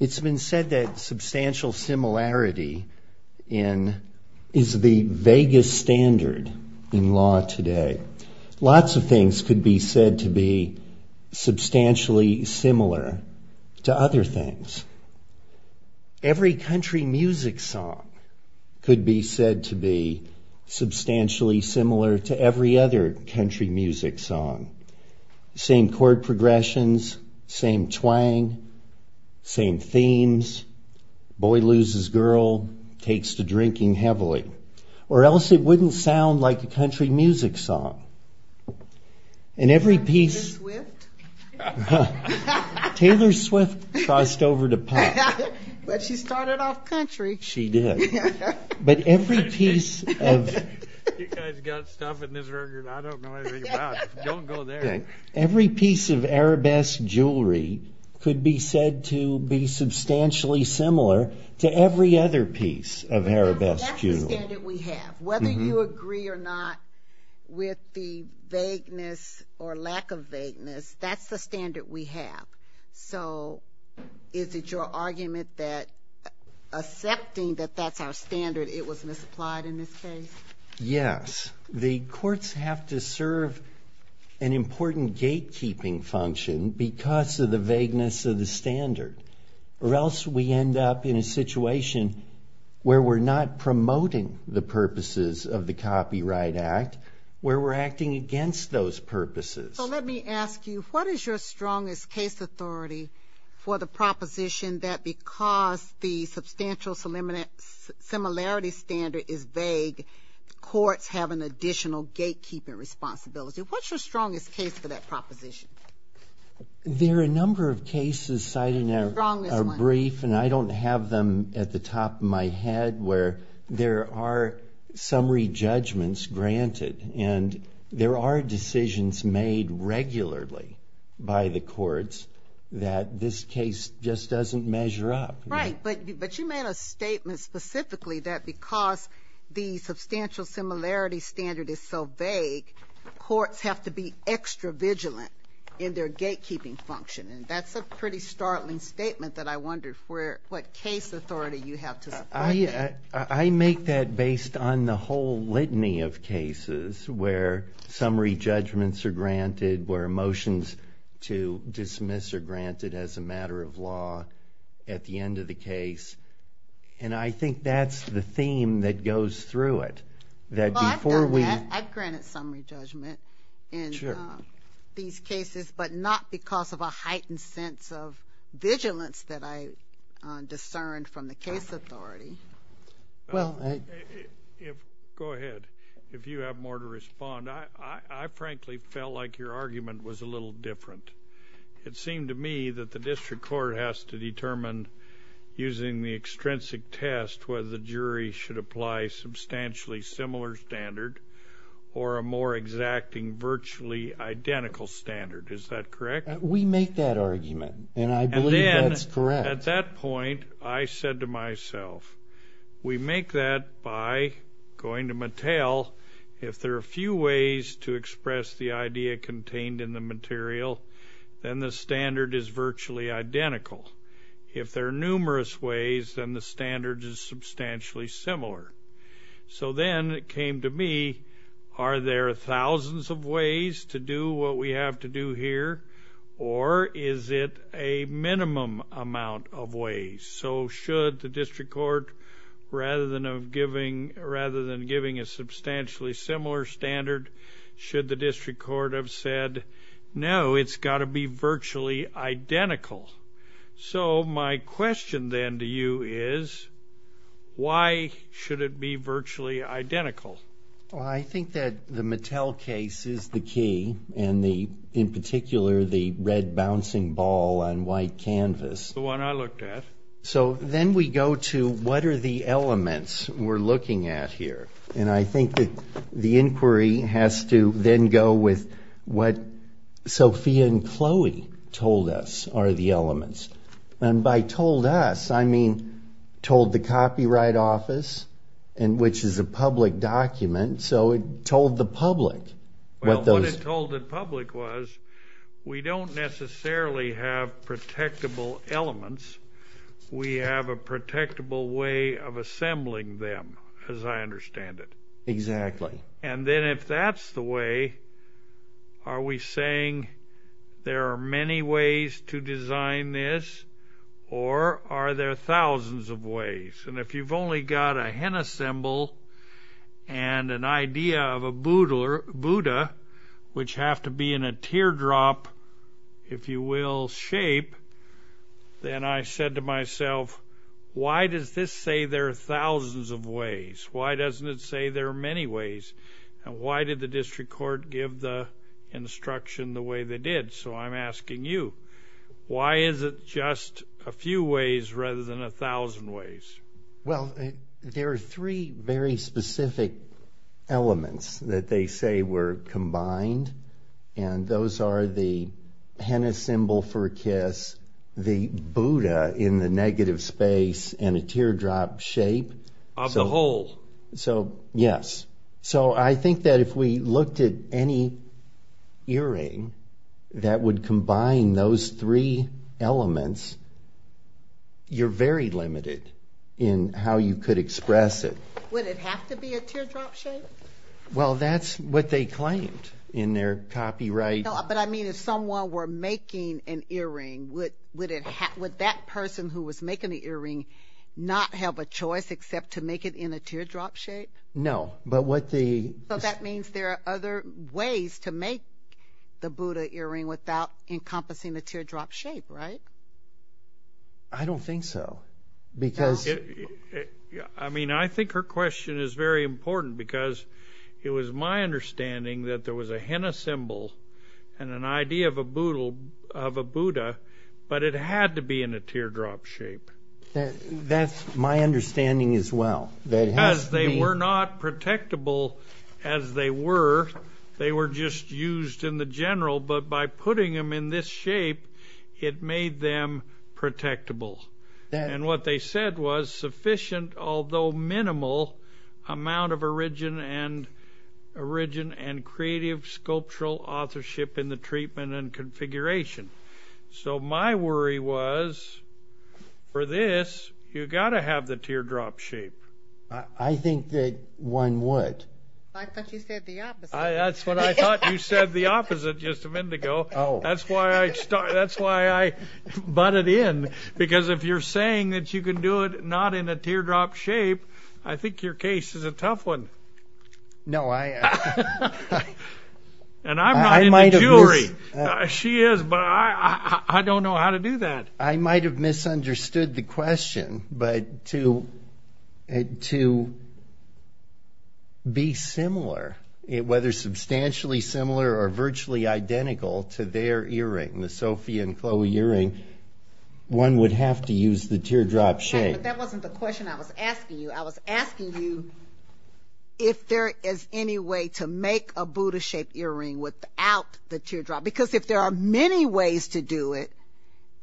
It has been said that substantial similarity is the vaguest standard in law today. Lots of things could be said to be substantially similar, to other things. Every country music song could be said to be substantially similar to every other country music song. Same chord progressions, same twang, same themes, boy loses girl, takes to drinking heavily. Or else it wouldn't sound like a country music song. Taylor Swift crossed over to pop. But she started off country. She did. You guys got stuff in this record I don't know anything about. Don't go there. Every piece of arabesque jewelry could be said to be substantially similar to every other piece of arabesque jewelry. That's the standard we have. Whether you agree or not with the vagueness or lack of vagueness, that's the standard we have. So is it your argument that accepting that that's our standard, it was misapplied in this case? Yes. The courts have to serve an important gatekeeping function because of the vagueness of the standard. Or else we end up in a situation where we're not promoting the purposes of the Copyright Act, where we're acting against those purposes. So let me ask you, what is your strongest case authority for the proposition that because the substantial similarity standard is vague, courts have an additional gatekeeping responsibility? What's your strongest case for that proposition? There are a number of cases cited in our brief, and I don't have them at the top of my head where there are summary judgments granted. And there are decisions made regularly by the courts that this case just doesn't measure up. Right. But you made a statement specifically that because the substantial similarity standard is so vague, courts have to be extra vigilant in their gatekeeping function. And that's a pretty startling statement that I wonder what case authority you have to support that. I make that based on the whole litany of cases where summary judgments are granted, where motions to dismiss are granted as a matter of law at the end of the case. And I think that's the theme that goes through it. Well, I've done that. I've granted summary judgment in these cases, but not because of a heightened sense of vigilance that I discerned from the case authority. Go ahead. If you have more to respond. I frankly felt like your argument was a little different. It seemed to me that the district court has to determine using the extrinsic test whether the jury should apply substantially similar standard or a more exacting virtually identical standard. Is that correct? We make that argument, and I believe that's correct. At that point, I said to myself, we make that by going to Mattel. If there are a few ways to express the idea contained in the material, then the standard is virtually identical. If there are numerous ways, then the standard is substantially similar. So then it came to me, are there thousands of ways to do what we have to do here, or is it a minimum amount of ways? So should the district court, rather than giving a substantially similar standard, should the district court have said, no, it's got to be virtually identical? So my question then to you is, why should it be virtually identical? I think that the Mattel case is the key, and in particular the red bouncing ball on white canvas. The one I looked at. So then we go to what are the elements we're looking at here, and I think that the inquiry has to then go with what Sophia and Chloe told us are the elements. And by told us, I mean told the Copyright Office, which is a public document, so it told the public. Well, what it told the public was, we don't necessarily have protectable elements. We have a protectable way of assembling them, as I understand it. Exactly. And then if that's the way, are we saying there are many ways to design this, or are there thousands of ways? And if you've only got a hen assemble and an idea of a Buddha, which have to be in a teardrop, if you will, shape, then I said to myself, why does this say there are thousands of ways? Why doesn't it say there are many ways? And why did the district court give the instruction the way they did? So I'm asking you, why is it just a few ways rather than a thousand ways? Well, there are three very specific elements that they say were combined, and those are the hen assemble for a kiss, the Buddha in the negative space, and a teardrop shape. Of the whole. So, yes. So I think that if we looked at any earring that would combine those three elements, you're very limited in how you could express it. Would it have to be a teardrop shape? Well, that's what they claimed in their copyright. But I mean, if someone were making an earring, would that person who was making the earring not have a choice except to make it in a teardrop shape? No. So that means there are other ways to make the Buddha earring without encompassing the teardrop shape, right? I don't think so. I mean, I think her question is very important because it was my understanding that there was a hen assemble and an idea of a Buddha, but it had to be in a teardrop shape. That's my understanding as well. Because they were not protectable as they were. They were just used in the general, but by putting them in this shape, it made them protectable. And what they said was sufficient, although minimal, amount of origin and creative sculptural authorship in the treatment and configuration. So my worry was, for this, you got to have the teardrop shape. I think that one would. I thought you said the opposite. That's what I thought you said the opposite just a minute ago. That's why I butted in. Because if you're saying that you can do it not in a teardrop shape, I think your case is a tough one. No, I... And I'm not in the jury. She is, but I don't know how to do that. I might have misunderstood the question, but to be similar, whether substantially similar or virtually identical to their earring, the Sophia and Chloe earring, one would have to use the teardrop shape. But that wasn't the question I was asking you. I was asking you if there is any way to make a Buddha-shaped earring without the teardrop. Because if there are many ways to do it,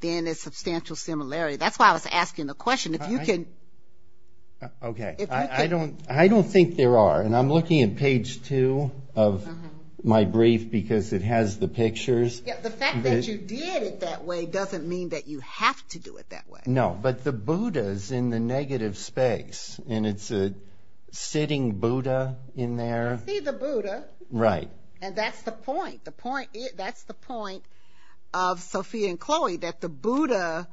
then it's substantial similarity. That's why I was asking the question. If you can... Okay. I don't think there are. And I'm looking at page two of my brief because it has the pictures. The fact that you did it that way doesn't mean that you have to do it that way. No, but the Buddha's in the negative space, and it's a sitting Buddha in there. I see the Buddha. Right. And that's the point. That's the point of Sophia and Chloe, that the Buddha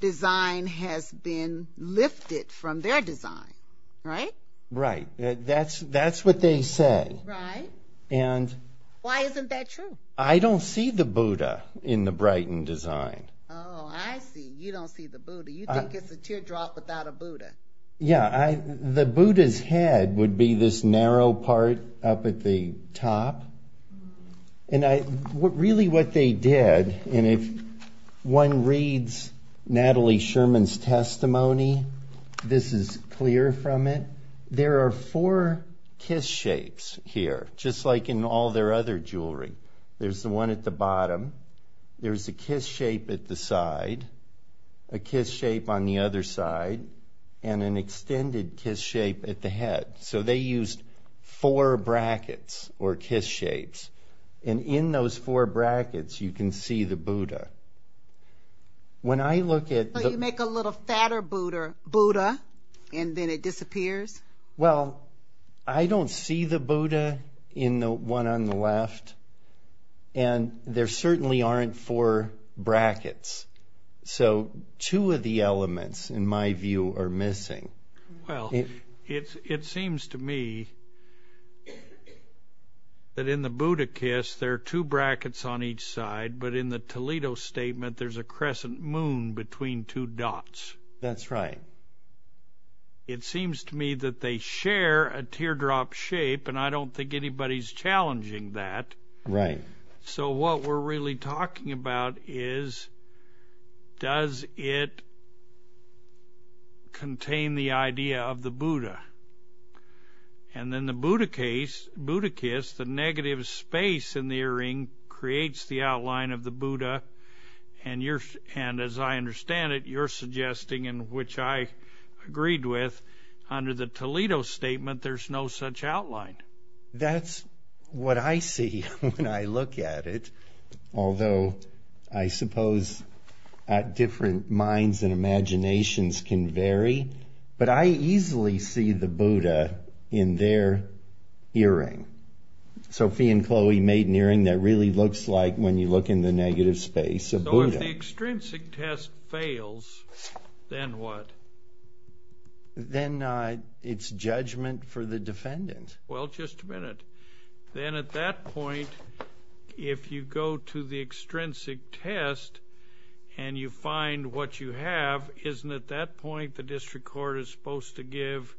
design has been lifted from their design. Right? Right. That's what they say. Right. Why isn't that true? I don't see the Buddha in the Brighton design. Oh, I see. You don't see the Buddha. You think it's a teardrop without a Buddha. Yeah. The Buddha's head would be this narrow part up at the top. And really what they did, and if one reads Natalie Sherman's testimony, this is clear from it. There are four kiss shapes here, just like in all their other jewelry. There's the one at the bottom, there's a kiss shape at the side, a kiss shape on the other side, and an extended kiss shape at the head. So they used four brackets, or kiss shapes, and in those four brackets you can see the Buddha. When I look at... You make a little fatter Buddha, and then it disappears? Well, I don't see the Buddha in the one on the left, and there certainly aren't four brackets. So two of the elements, in my view, are missing. Well, it seems to me that in the Buddha kiss there are two brackets on each side, but in the Toledo statement there's a crescent moon between two dots. That's right. It seems to me that they share a teardrop shape, and I don't think anybody's challenging that. So what we're really talking about is, does it contain the idea of the Buddha? And in the Buddha kiss, the negative space in the earring creates the outline of the Buddha, and as I understand it, you're suggesting, and which I agreed with, under the Toledo statement there's no such outline. That's what I see when I look at it, although I suppose different minds and imaginations can vary, but I easily see the Buddha in their earring. Sophie and Chloe made an earring that really looks like, when you look in the negative space, a Buddha. So if the extrinsic test fails, then what? Then it's judgment for the defendant. Well, just a minute. Then at that point, if you go to the extrinsic test and you find what you have, isn't at that point the district court is supposed to give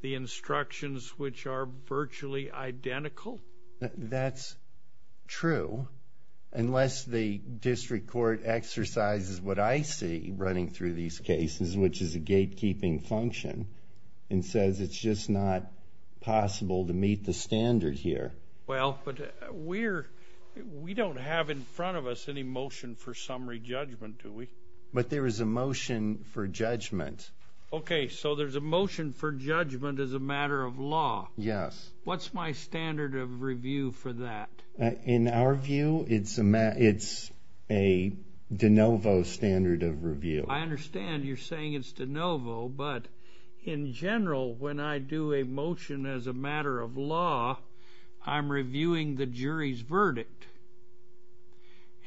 the instructions which are virtually identical? That's true, unless the district court exercises what I see running through these cases, which is a gatekeeping function, and says it's just not possible to meet the standard here. Well, but we don't have in front of us any motion for summary judgment, do we? But there is a motion for judgment. Okay, so there's a motion for judgment as a matter of law. Yes. What's my standard of review for that? In our view, it's a de novo standard of review. I understand you're saying it's de novo, but in general, when I do a motion as a matter of law, I'm reviewing the jury's verdict.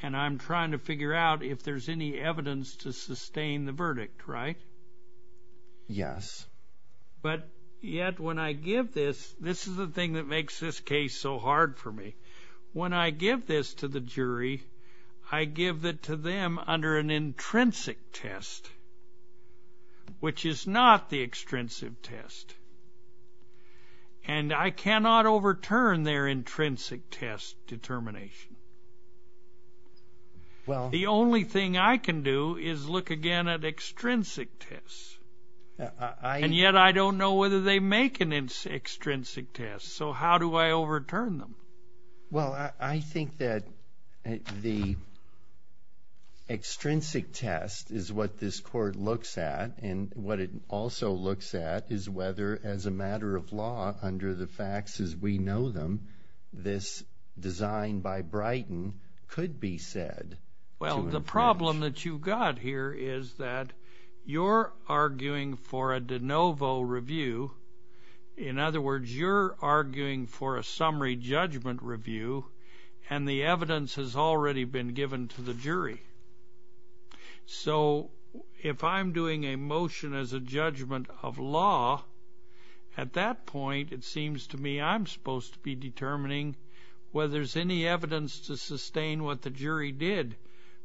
And I'm trying to figure out if there's any evidence to sustain the verdict, right? Yes. But yet, when I give this, this is the thing that makes this case so hard for me. When I give this to the jury, I give it to them under an intrinsic test, which is not the extrinsic test. And I cannot overturn their intrinsic test determination. The only thing I can do is look again at extrinsic tests. And yet, I don't know whether they make an extrinsic test, so how do I overturn them? Well, I think that the extrinsic test is what this court looks at. And what it also looks at is whether, as a matter of law, under the facts as we know them, this design by Brighton could be said. Well, the problem that you got here is that you're arguing for a de novo review. In other words, you're arguing for a summary judgment review, and the evidence has already been given to the jury. So, if I'm doing a motion as a judgment of law, at that point, it seems to me I'm supposed to be determining whether there's any evidence to sustain what the jury did.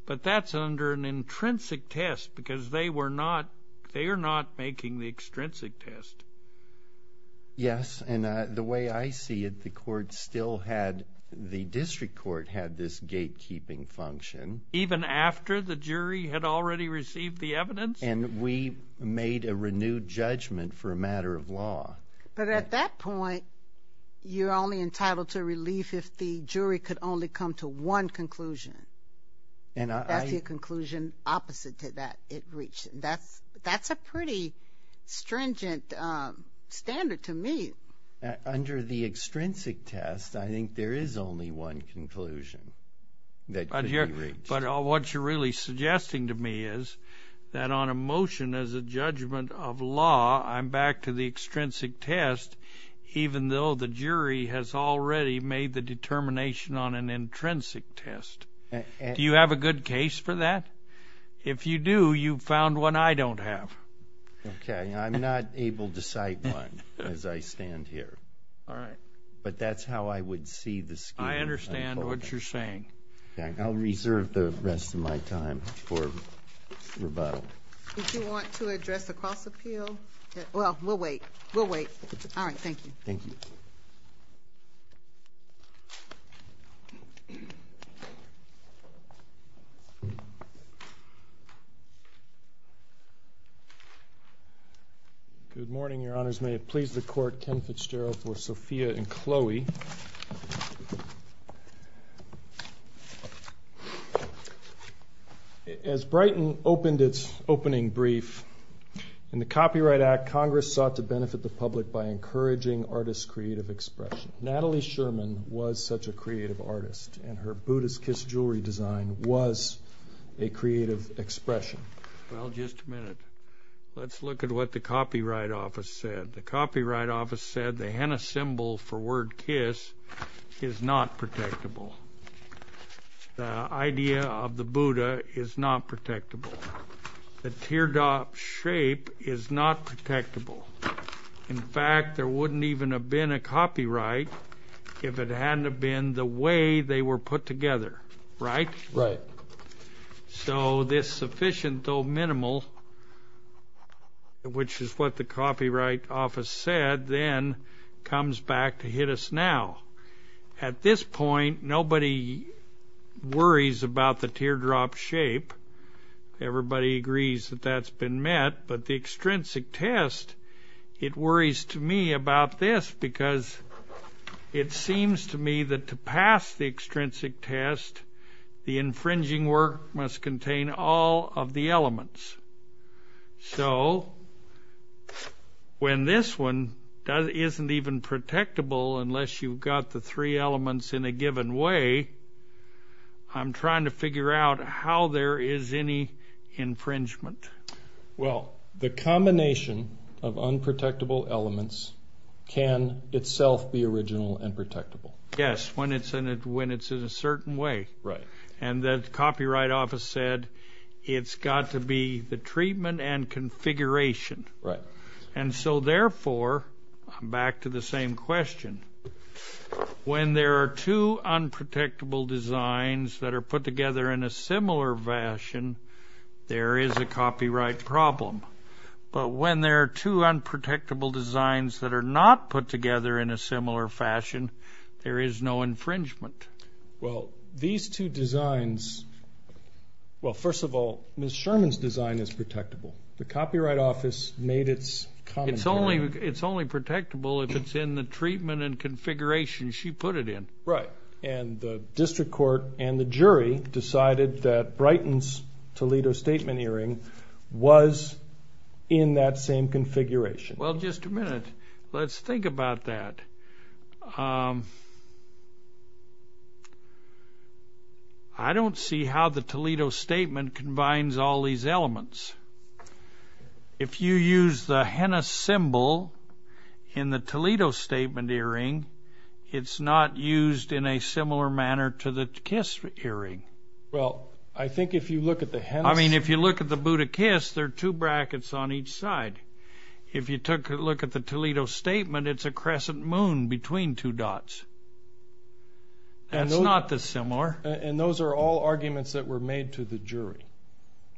But that's under an intrinsic test, because they were not, they are not making the extrinsic test. Yes, and the way I see it, the court still had, the district court had this gatekeeping function. Even after the jury had already received the evidence? And we made a renewed judgment for a matter of law. But at that point, you're only entitled to relief if the jury could only come to one conclusion. That's the conclusion opposite to that it reached. That's a pretty stringent standard to me. Under the extrinsic test, I think there is only one conclusion that could be reached. But what you're really suggesting to me is that on a motion as a judgment of law, I'm back to the extrinsic test, even though the jury has already made the determination on an intrinsic test. Do you have a good case for that? If you do, you've found one I don't have. Okay, I'm not able to cite one as I stand here. All right. But that's how I would see the scheme. I understand what you're saying. I'll reserve the rest of my time for rebuttal. Would you want to address the cross-appeal? Well, we'll wait. We'll wait. All right, thank you. Thank you. Thank you. Good morning, Your Honors. May it please the Court, Ken Fitzgerald for Sophia and Chloe. As Brighton opened its opening brief, in the Copyright Act, Congress sought to benefit the public by encouraging artists' creative expression. Natalie Sherman was such a creative artist, and her Buddhist kiss jewelry design was a creative expression. Well, just a minute. Let's look at what the Copyright Office said. The Copyright Office said the henna symbol for word kiss is not protectable. The idea of the Buddha is not protectable. The teardrop shape is not protectable. In fact, there wouldn't even have been a copyright if it hadn't been the way they were put together. Right? Right. So this sufficient though minimal, which is what the Copyright Office said, then comes back to hit us now. At this point, nobody worries about the teardrop shape. Everybody agrees that that's been met. But the extrinsic test, it worries to me about this because it seems to me that to pass the extrinsic test, the infringing work must contain all of the elements. So when this one isn't even protectable unless you've got the three elements in a given way, I'm trying to figure out how there is any infringement. Well, the combination of unprotectable elements can itself be original and protectable. Yes, when it's in a certain way. Right. And the Copyright Office said it's got to be the treatment and configuration. Right. And so therefore, back to the same question, when there are two unprotectable designs that are put together in a similar fashion, there is a copyright problem. But when there are two unprotectable designs that are not put together in a similar fashion, there is no infringement. Well, these two designs, well, first of all, Ms. Sherman's design is protectable. The Copyright Office made its commentary. It's only protectable if it's in the treatment and configuration she put it in. Right. And the District Court and the jury decided that Brighton's Toledo Statement earring was in that same configuration. Well, just a minute. Let's think about that. I don't see how the Toledo Statement combines all these elements. If you use the henna symbol in the Toledo Statement earring, it's not used in a similar manner to the Kiss earring. Well, I think if you look at the henna symbol... I mean, if you look at the Buddha Kiss, there are two brackets on each side. If you took a look at the Toledo Statement, it's a crescent moon between two dots. That's not dissimilar. And those are all arguments that were made to the jury.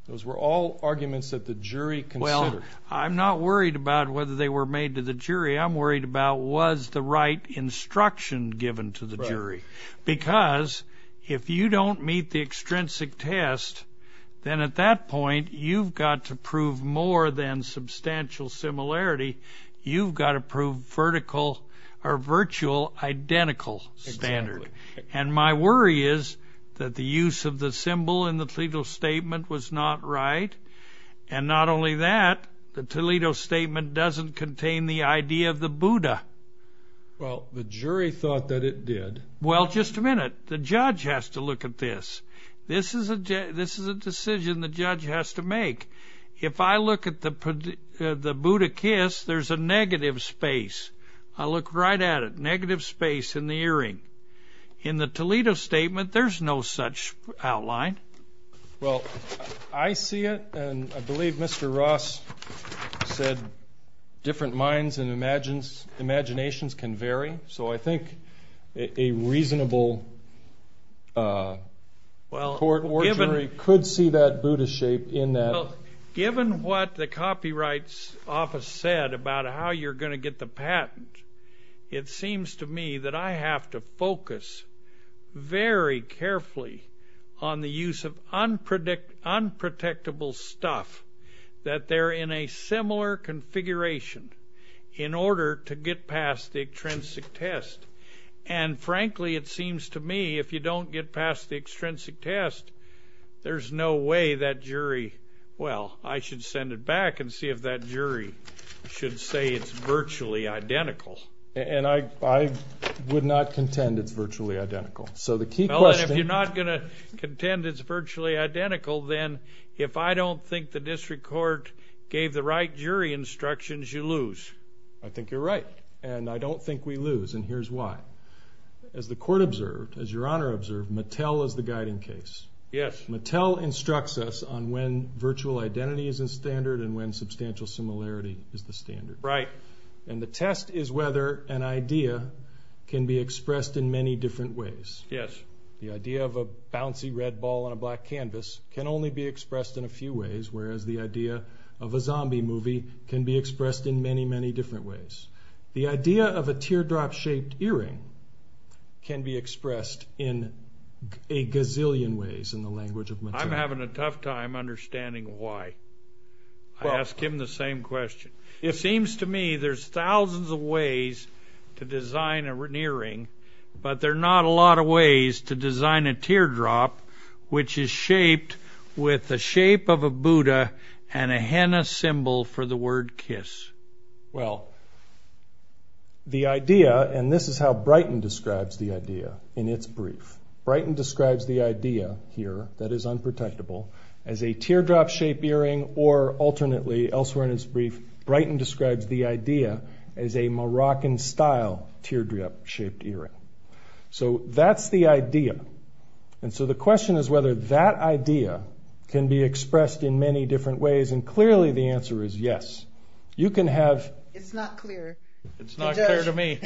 Those were all arguments that the jury considered. Well, I'm not worried about whether they were made to the jury. I'm worried about was the right instruction given to the jury. Because if you don't meet the extrinsic test, then at that point, you've got to prove more than substantial similarity. You've got to prove vertical or virtual identical standard. And my worry is that the use of the symbol in the Toledo Statement was not right. And not only that, the Toledo Statement doesn't contain the idea of the Buddha. Well, the jury thought that it did. Well, just a minute. The judge has to look at this. This is a decision the judge has to make. If I look at the Buddha kiss, there's a negative space. I look right at it. Negative space in the earring. In the Toledo Statement, there's no such outline. Well, I see it, and I believe Mr. Ross said different minds and imaginations can vary. So I think a reasonable court or jury could see that Buddha shape in that. Well, given what the Copyright Office said about how you're going to get the patent, it seems to me that I have to focus very carefully on the use of unprotectable stuff, that they're in a similar configuration in order to get past the extrinsic test. And, frankly, it seems to me if you don't get past the extrinsic test, there's no way that jury – well, I should send it back and see if that jury should say it's virtually identical. And I would not contend it's virtually identical. So the key question – If I don't think the district court gave the right jury instructions, you lose. I think you're right, and I don't think we lose, and here's why. As the court observed, as Your Honor observed, Mattel is the guiding case. Yes. Mattel instructs us on when virtual identity is the standard and when substantial similarity is the standard. Right. And the test is whether an idea can be expressed in many different ways. Yes. The idea of a bouncy red ball on a black canvas can only be expressed in a few ways, whereas the idea of a zombie movie can be expressed in many, many different ways. The idea of a teardrop-shaped earring can be expressed in a gazillion ways in the language of Mattel. I'm having a tough time understanding why. I ask him the same question. It seems to me there's thousands of ways to design an earring, but there are not a lot of ways to design a teardrop which is shaped with the shape of a Buddha and a henna symbol for the word kiss. Well, the idea, and this is how Brighton describes the idea in its brief. Brighton describes the idea here, that is unprotectable, as a teardrop-shaped earring, or alternately, elsewhere in its brief, Brighton describes the idea as a Moroccan-style teardrop-shaped earring. So that's the idea. And so the question is whether that idea can be expressed in many different ways, and clearly the answer is yes. You can have... It's not clear. It's not clear to me.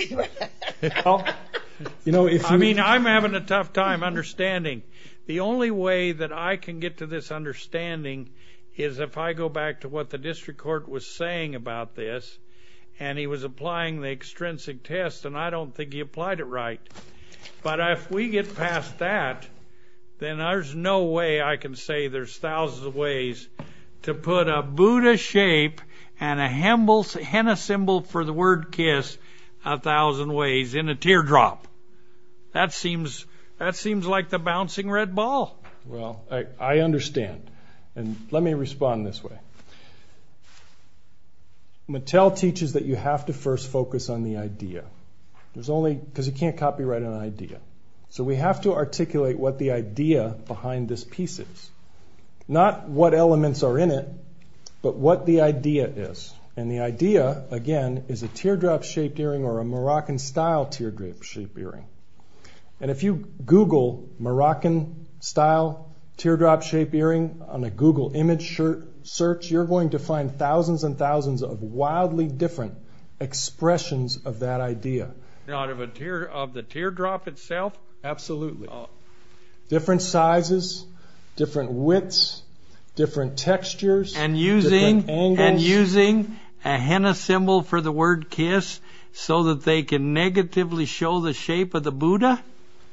I mean, I'm having a tough time understanding. The only way that I can get to this understanding is if I go back to what the district court was saying about this, and he was applying the extrinsic test, and I don't think he applied it right. But if we get past that, then there's no way I can say there's thousands of ways to put a Buddha shape and a henna symbol for the word kiss a thousand ways in a teardrop. That seems like the bouncing red ball. Well, I understand, and let me respond this way. Mattel teaches that you have to first focus on the idea. There's only... Because you can't copyright an idea. So we have to articulate what the idea behind this piece is. Not what elements are in it, but what the idea is. And the idea, again, is a teardrop-shaped earring or a Moroccan-style teardrop-shaped earring. And if you Google Moroccan-style teardrop-shaped earring on a Google image search, you're going to find thousands and thousands of wildly different expressions of that idea. Out of the teardrop itself? Absolutely. Different sizes, different widths, different textures, different angles. And using a henna symbol for the word kiss so that they can negatively show the shape of the Buddha?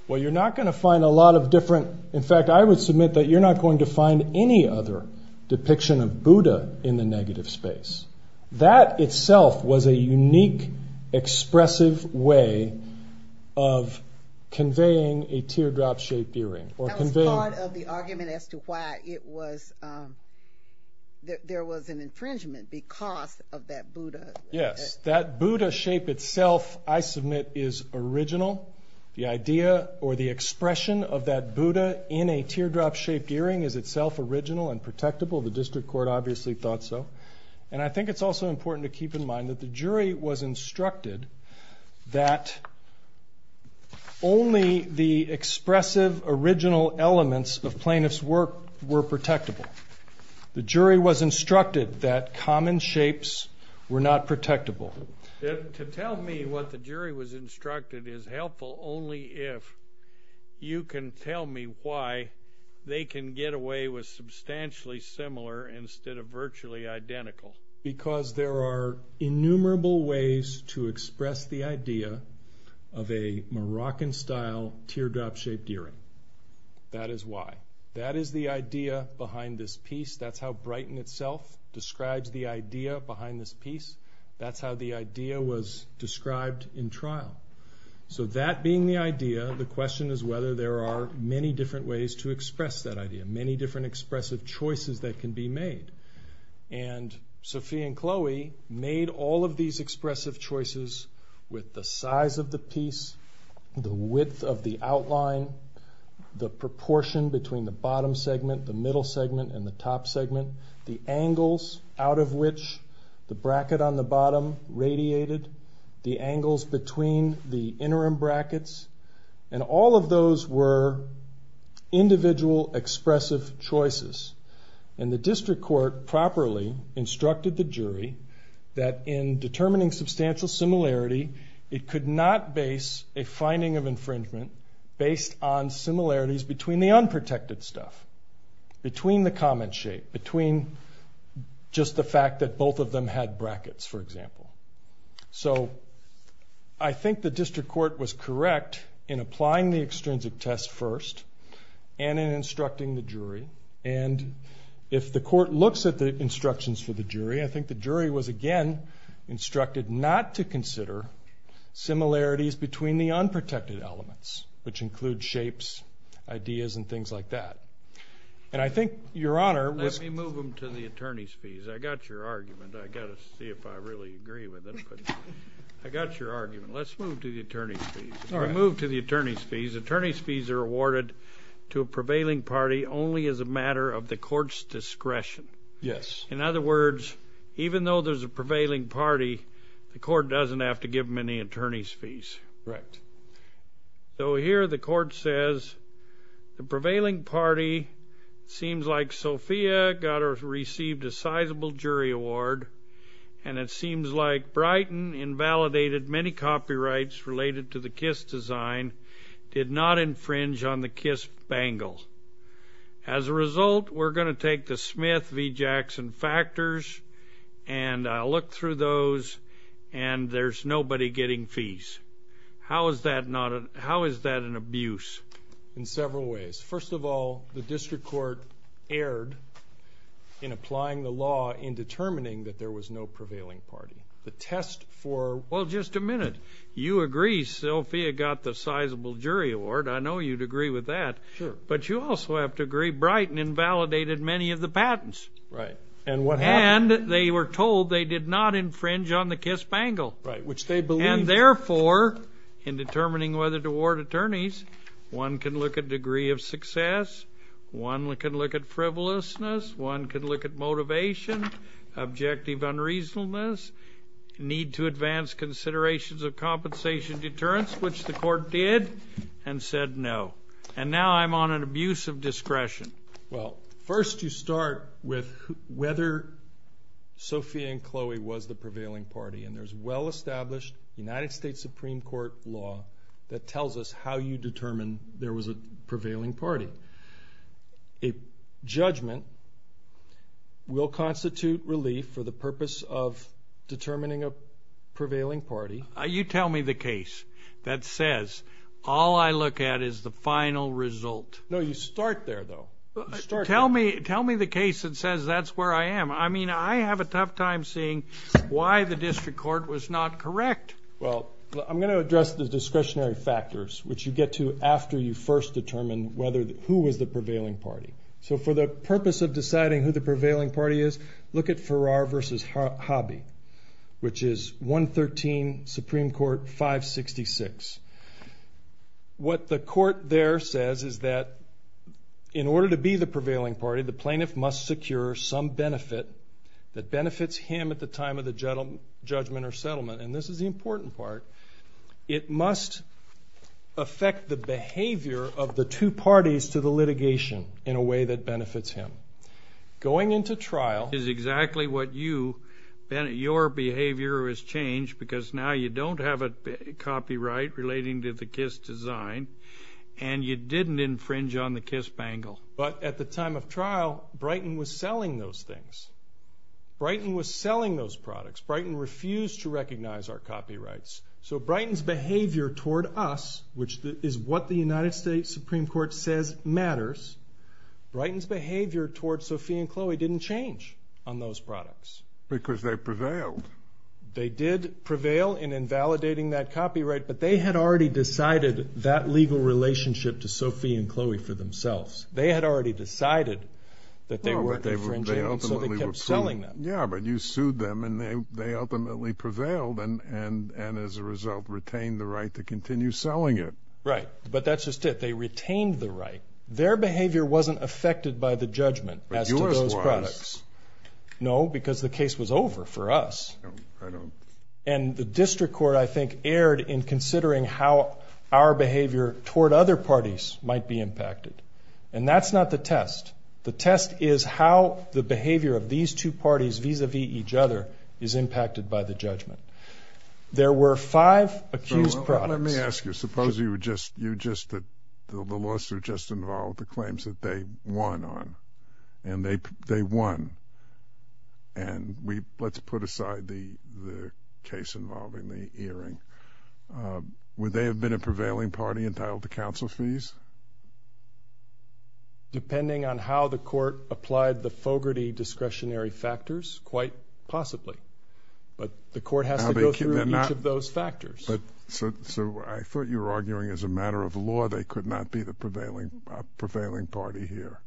Well, you're not going to find a lot of different... In fact, I would submit that you're not going to find any other depiction of Buddha in the negative space. That itself was a unique, expressive way of conveying a teardrop-shaped earring or conveying... That was part of the argument as to why it was... There was an infringement because of that Buddha. Yes, that Buddha shape itself, I submit, is original. The idea or the expression of that Buddha in a teardrop-shaped earring is itself original and protectable. The district court obviously thought so. And I think it's also important to keep in mind that the jury was instructed that only the expressive, original elements of plaintiff's work were protectable. The jury was instructed that common shapes were not protectable. To tell me what the jury was instructed is helpful only if you can tell me why they can get away with substantially similar instead of virtually identical. Because there are innumerable ways to express the idea of a Moroccan-style teardrop-shaped earring. That is why. That is the idea behind this piece. That's how Brighton itself describes the idea behind this piece. That's how the idea was described in trial. So that being the idea, the question is whether there are many different ways to express that idea, many different expressive choices that can be made. And Sophie and Chloe made all of these expressive choices with the size of the piece, the width of the outline, the proportion between the bottom segment, the middle segment, and the top segment, the angles out of which the bracket on the bottom radiated, the angles between the interim brackets. And all of those were individual expressive choices. And the district court properly instructed the jury that in determining substantial similarity, it could not base a finding of infringement based on similarities between the unprotected stuff, between the common shape, between just the fact that both of them had brackets, for example. So I think the district court was correct in applying the extrinsic test first and in instructing the jury. And if the court looks at the instructions for the jury, I think the jury was, again, instructed not to consider similarities between the unprotected elements, which include shapes, ideas, and things like that. And I think Your Honor was. Let me move them to the attorney's fees. I got your argument. I got to see if I really agree with it. I got your argument. Let's move to the attorney's fees. If we move to the attorney's fees, attorney's fees are awarded to a prevailing party only as a matter of the court's discretion. Yes. In other words, even though there's a prevailing party, the court doesn't have to give them any attorney's fees. Correct. So here the court says the prevailing party seems like Sophia got or received a sizable jury award, and it seems like Brighton invalidated many copyrights related to the Kiss design, did not infringe on the Kiss bangle. As a result, we're going to take the Smith v. Jackson factors, and I'll look through those, and there's nobody getting fees. How is that an abuse? In several ways. First of all, the district court erred in applying the law in determining that there was no prevailing party. The test for – Well, just a minute. You agree Sophia got the sizable jury award. I know you'd agree with that. Sure. But you also have to agree Brighton invalidated many of the patents. Right. And what happened? And they were told they did not infringe on the Kiss bangle. Right, which they believed. And therefore, in determining whether to award attorneys, one can look at degree of success, one can look at frivolousness, one can look at motivation, objective unreasonableness, need to advance considerations of compensation deterrence, which the court did and said no. And now I'm on an abuse of discretion. Well, first you start with whether Sophia and Chloe was the prevailing party, and there's well-established United States Supreme Court law that tells us how you determine there was a prevailing party. A judgment will constitute relief for the purpose of determining a prevailing party. You tell me the case. That says all I look at is the final result. No, you start there though. Tell me the case that says that's where I am. I mean, I have a tough time seeing why the district court was not correct. Well, I'm going to address the discretionary factors, which you get to after you first determine who was the prevailing party. So for the purpose of deciding who the prevailing party is, look at Farrar v. Hobby, which is 113 Supreme Court 566. What the court there says is that in order to be the prevailing party, the plaintiff must secure some benefit that benefits him at the time of the judgment or settlement. And this is the important part. It must affect the behavior of the two parties to the litigation in a way that benefits him. Going into trial is exactly what you, your behavior has changed because now you don't have a copyright relating to the Kiss design, and you didn't infringe on the Kiss bangle. But at the time of trial, Brighton was selling those things. Brighton was selling those products. Brighton refused to recognize our copyrights. So Brighton's behavior toward us, which is what the United States Supreme Court says matters, Brighton's behavior toward Sophie and Chloe didn't change on those products. Because they prevailed. They did prevail in invalidating that copyright, but they had already decided that legal relationship to Sophie and Chloe for themselves. They had already decided that they weren't infringing, so they kept selling them. Yeah, but you sued them, and they ultimately prevailed and as a result retained the right to continue selling it. Right, but that's just it. They retained the right. Their behavior wasn't affected by the judgment as to those products. But yours was. No, because the case was over for us. And the district court, I think, erred in considering how our behavior toward other parties might be impacted. And that's not the test. The test is how the behavior of these two parties vis-à-vis each other is impacted by the judgment. There were five accused products. Let me ask you, suppose you just, the lawsuit just involved the claims that they won on, and they won and let's put aside the case involving the earring. Would they have been a prevailing party entitled to counsel fees? Depending on how the court applied the Fogarty discretionary factors, quite possibly. But the court has to go through each of those factors. So I thought you were arguing as a matter of law they could not be the prevailing party here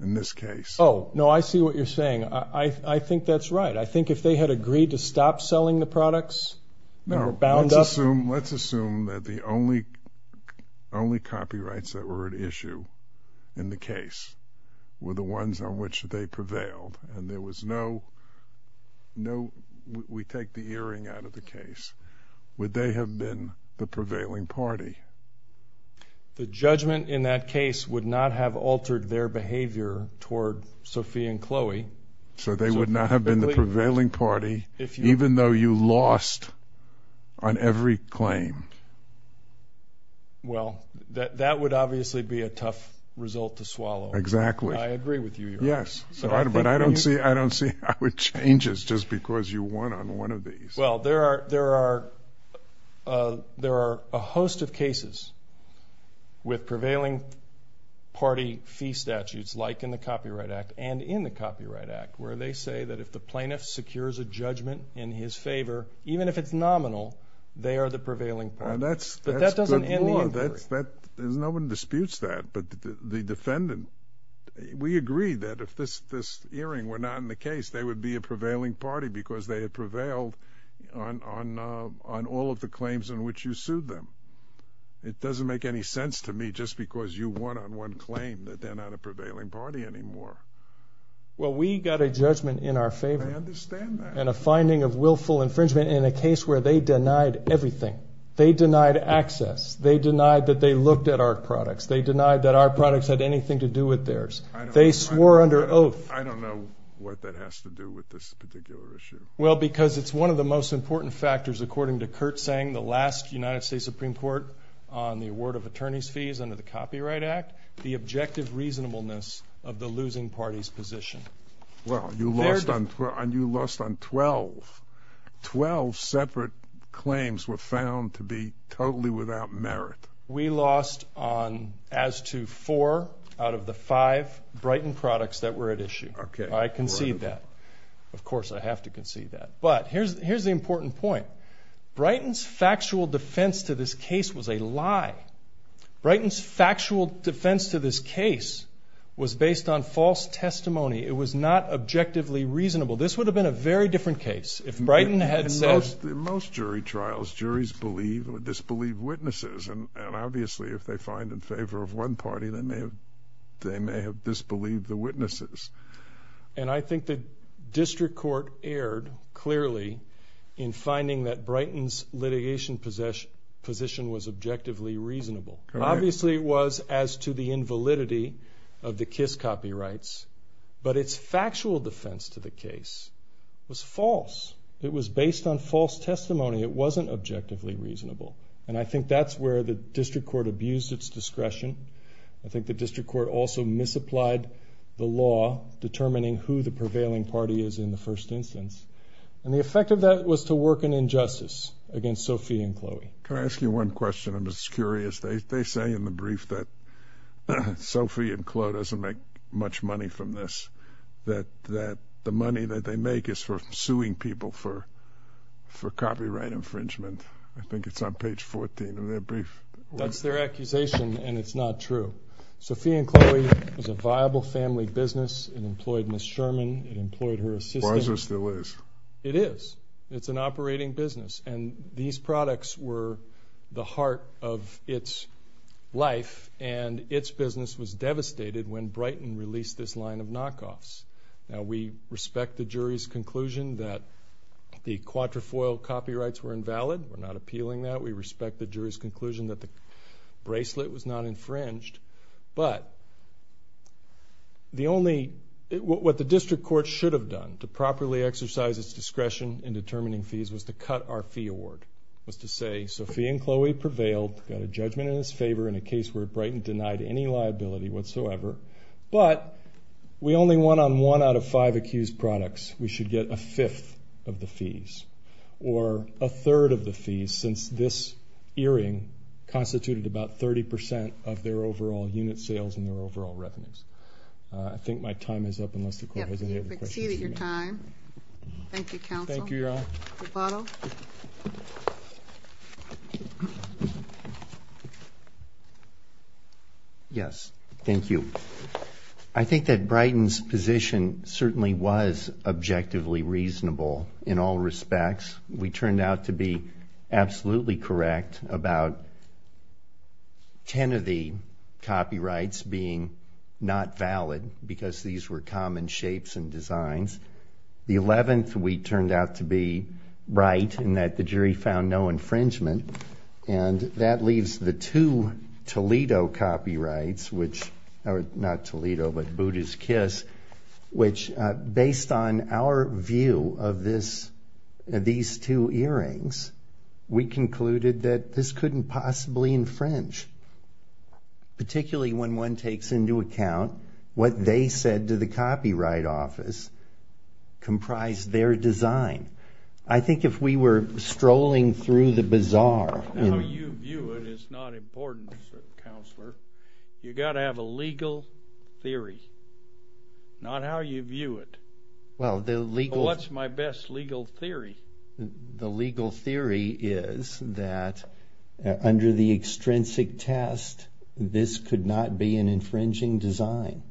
in this case. Oh, no, I see what you're saying. I think that's right. I think if they had agreed to stop selling the products, they were bound up. No, let's assume that the only copyrights that were at issue in the case were the ones on which they prevailed. And there was no, we take the earring out of the case. Would they have been the prevailing party? The judgment in that case would not have altered their behavior toward Sophie and Chloe. So they would not have been the prevailing party even though you lost on every claim? Well, that would obviously be a tough result to swallow. Exactly. I agree with you. Yes, but I don't see how it changes just because you won on one of these. Well, there are a host of cases with prevailing party fee statutes like in the Copyright Act and in the Copyright Act where they say that if the plaintiff secures a judgment in his favor, even if it's nominal, they are the prevailing party. That's good law. But that doesn't end the inquiry. No one disputes that, but the defendant, we agreed that if this earring were not in the case, they would be a prevailing party because they had prevailed on all of the claims in which you sued them. It doesn't make any sense to me just because you won on one claim that they're not a prevailing party anymore. Well, we got a judgment in our favor. I understand that. And a finding of willful infringement in a case where they denied everything. They denied access. They denied that they looked at our products. They denied that our products had anything to do with theirs. They swore under oath. I don't know what that has to do with this particular issue. Well, because it's one of the most important factors, according to Kurt, saying the last United States Supreme Court on the award of attorney's fees under the Copyright Act, the objective reasonableness of the losing party's position. Well, you lost on 12. Twelve separate claims were found to be totally without merit. We lost on as to four out of the five Brighton products that were at issue. Okay. I concede that. Of course, I have to concede that. But here's the important point. Brighton's factual defense to this case was a lie. Brighton's factual defense to this case was based on false testimony. It was not objectively reasonable. This would have been a very different case if Brighton had said. In most jury trials, juries believe or disbelieve witnesses. And obviously, if they find in favor of one party, they may have disbelieved the witnesses. And I think the district court erred clearly in finding that Brighton's litigation position was objectively reasonable. Obviously, it was as to the invalidity of the Kiss copyrights. But its factual defense to the case was false. It was based on false testimony. It wasn't objectively reasonable. And I think that's where the district court abused its discretion. I think the district court also misapplied the law determining who the prevailing party is in the first instance. And the effect of that was to work an injustice against Sophie and Chloe. Can I ask you one question? I'm just curious. They say in the brief that Sophie and Chloe doesn't make much money from this, that the money that they make is for suing people for copyright infringement. I think it's on page 14 of their brief. That's their accusation, and it's not true. Sophie and Chloe was a viable family business. It employed Ms. Sherman. It employed her assistant. Barza still is. It is. It's an operating business. And these products were the heart of its life. And its business was devastated when Brighton released this line of knockoffs. Now, we respect the jury's conclusion that the quatrefoil copyrights were invalid. We're not appealing that. We respect the jury's conclusion that the bracelet was not infringed. But the only – what the district court should have done to properly exercise its discretion in determining fees was to cut our fee award, was to say Sophie and Chloe prevailed, got a judgment in its favor in a case where Brighton denied any liability whatsoever. But we only won on one out of five accused products. We should get a fifth of the fees, or a third of the fees since this earring constituted about 30 percent of their overall unit sales and their overall revenues. I think my time is up unless the court has any other questions. You have exceeded your time. Thank you, counsel. Thank you, Your Honor. Lupano? Yes. Thank you. I think that Brighton's position certainly was objectively reasonable in all respects. We turned out to be absolutely correct about ten of the copyrights being not valid because these were common shapes and designs. The 11th we turned out to be right in that the jury found no infringement. And that leaves the two Toledo copyrights, which – not Toledo, but Buddha's Kiss – which, based on our view of this – these two earrings, we concluded that this couldn't possibly infringe, particularly when one takes into account what they said to the Copyright Office comprised their design. I think if we were strolling through the bazaar – How you view it is not important, Counselor. You've got to have a legal theory, not how you view it. Well, the legal – What's my best legal theory? The legal theory is that under the extrinsic test, this could not be an infringing design.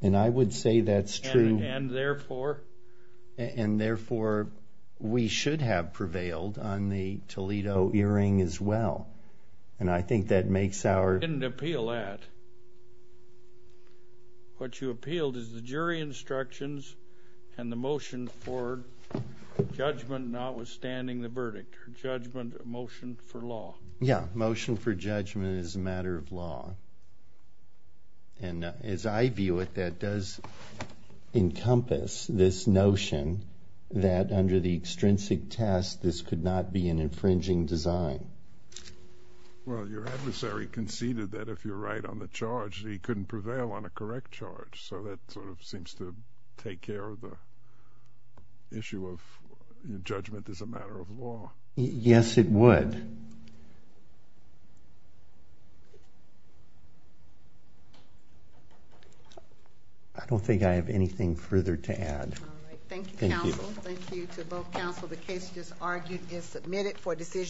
And I would say that's true. And therefore? And therefore, we should have prevailed on the Toledo earring as well. And I think that makes our – We didn't appeal that. What you appealed is the jury instructions and the motion for judgment notwithstanding the verdict, or judgment – motion for law. Yeah, motion for judgment is a matter of law. And as I view it, that does encompass this notion that under the extrinsic test, this could not be an infringing design. Well, your adversary conceded that if you're right on the charge, he couldn't prevail on a correct charge. So that sort of seems to take care of the issue of judgment as a matter of law. Yes, it would. I don't think I have anything further to add. All right. Thank you, Counsel. Thank you. Thank you to both Counsel. The case just argued is submitted for decision.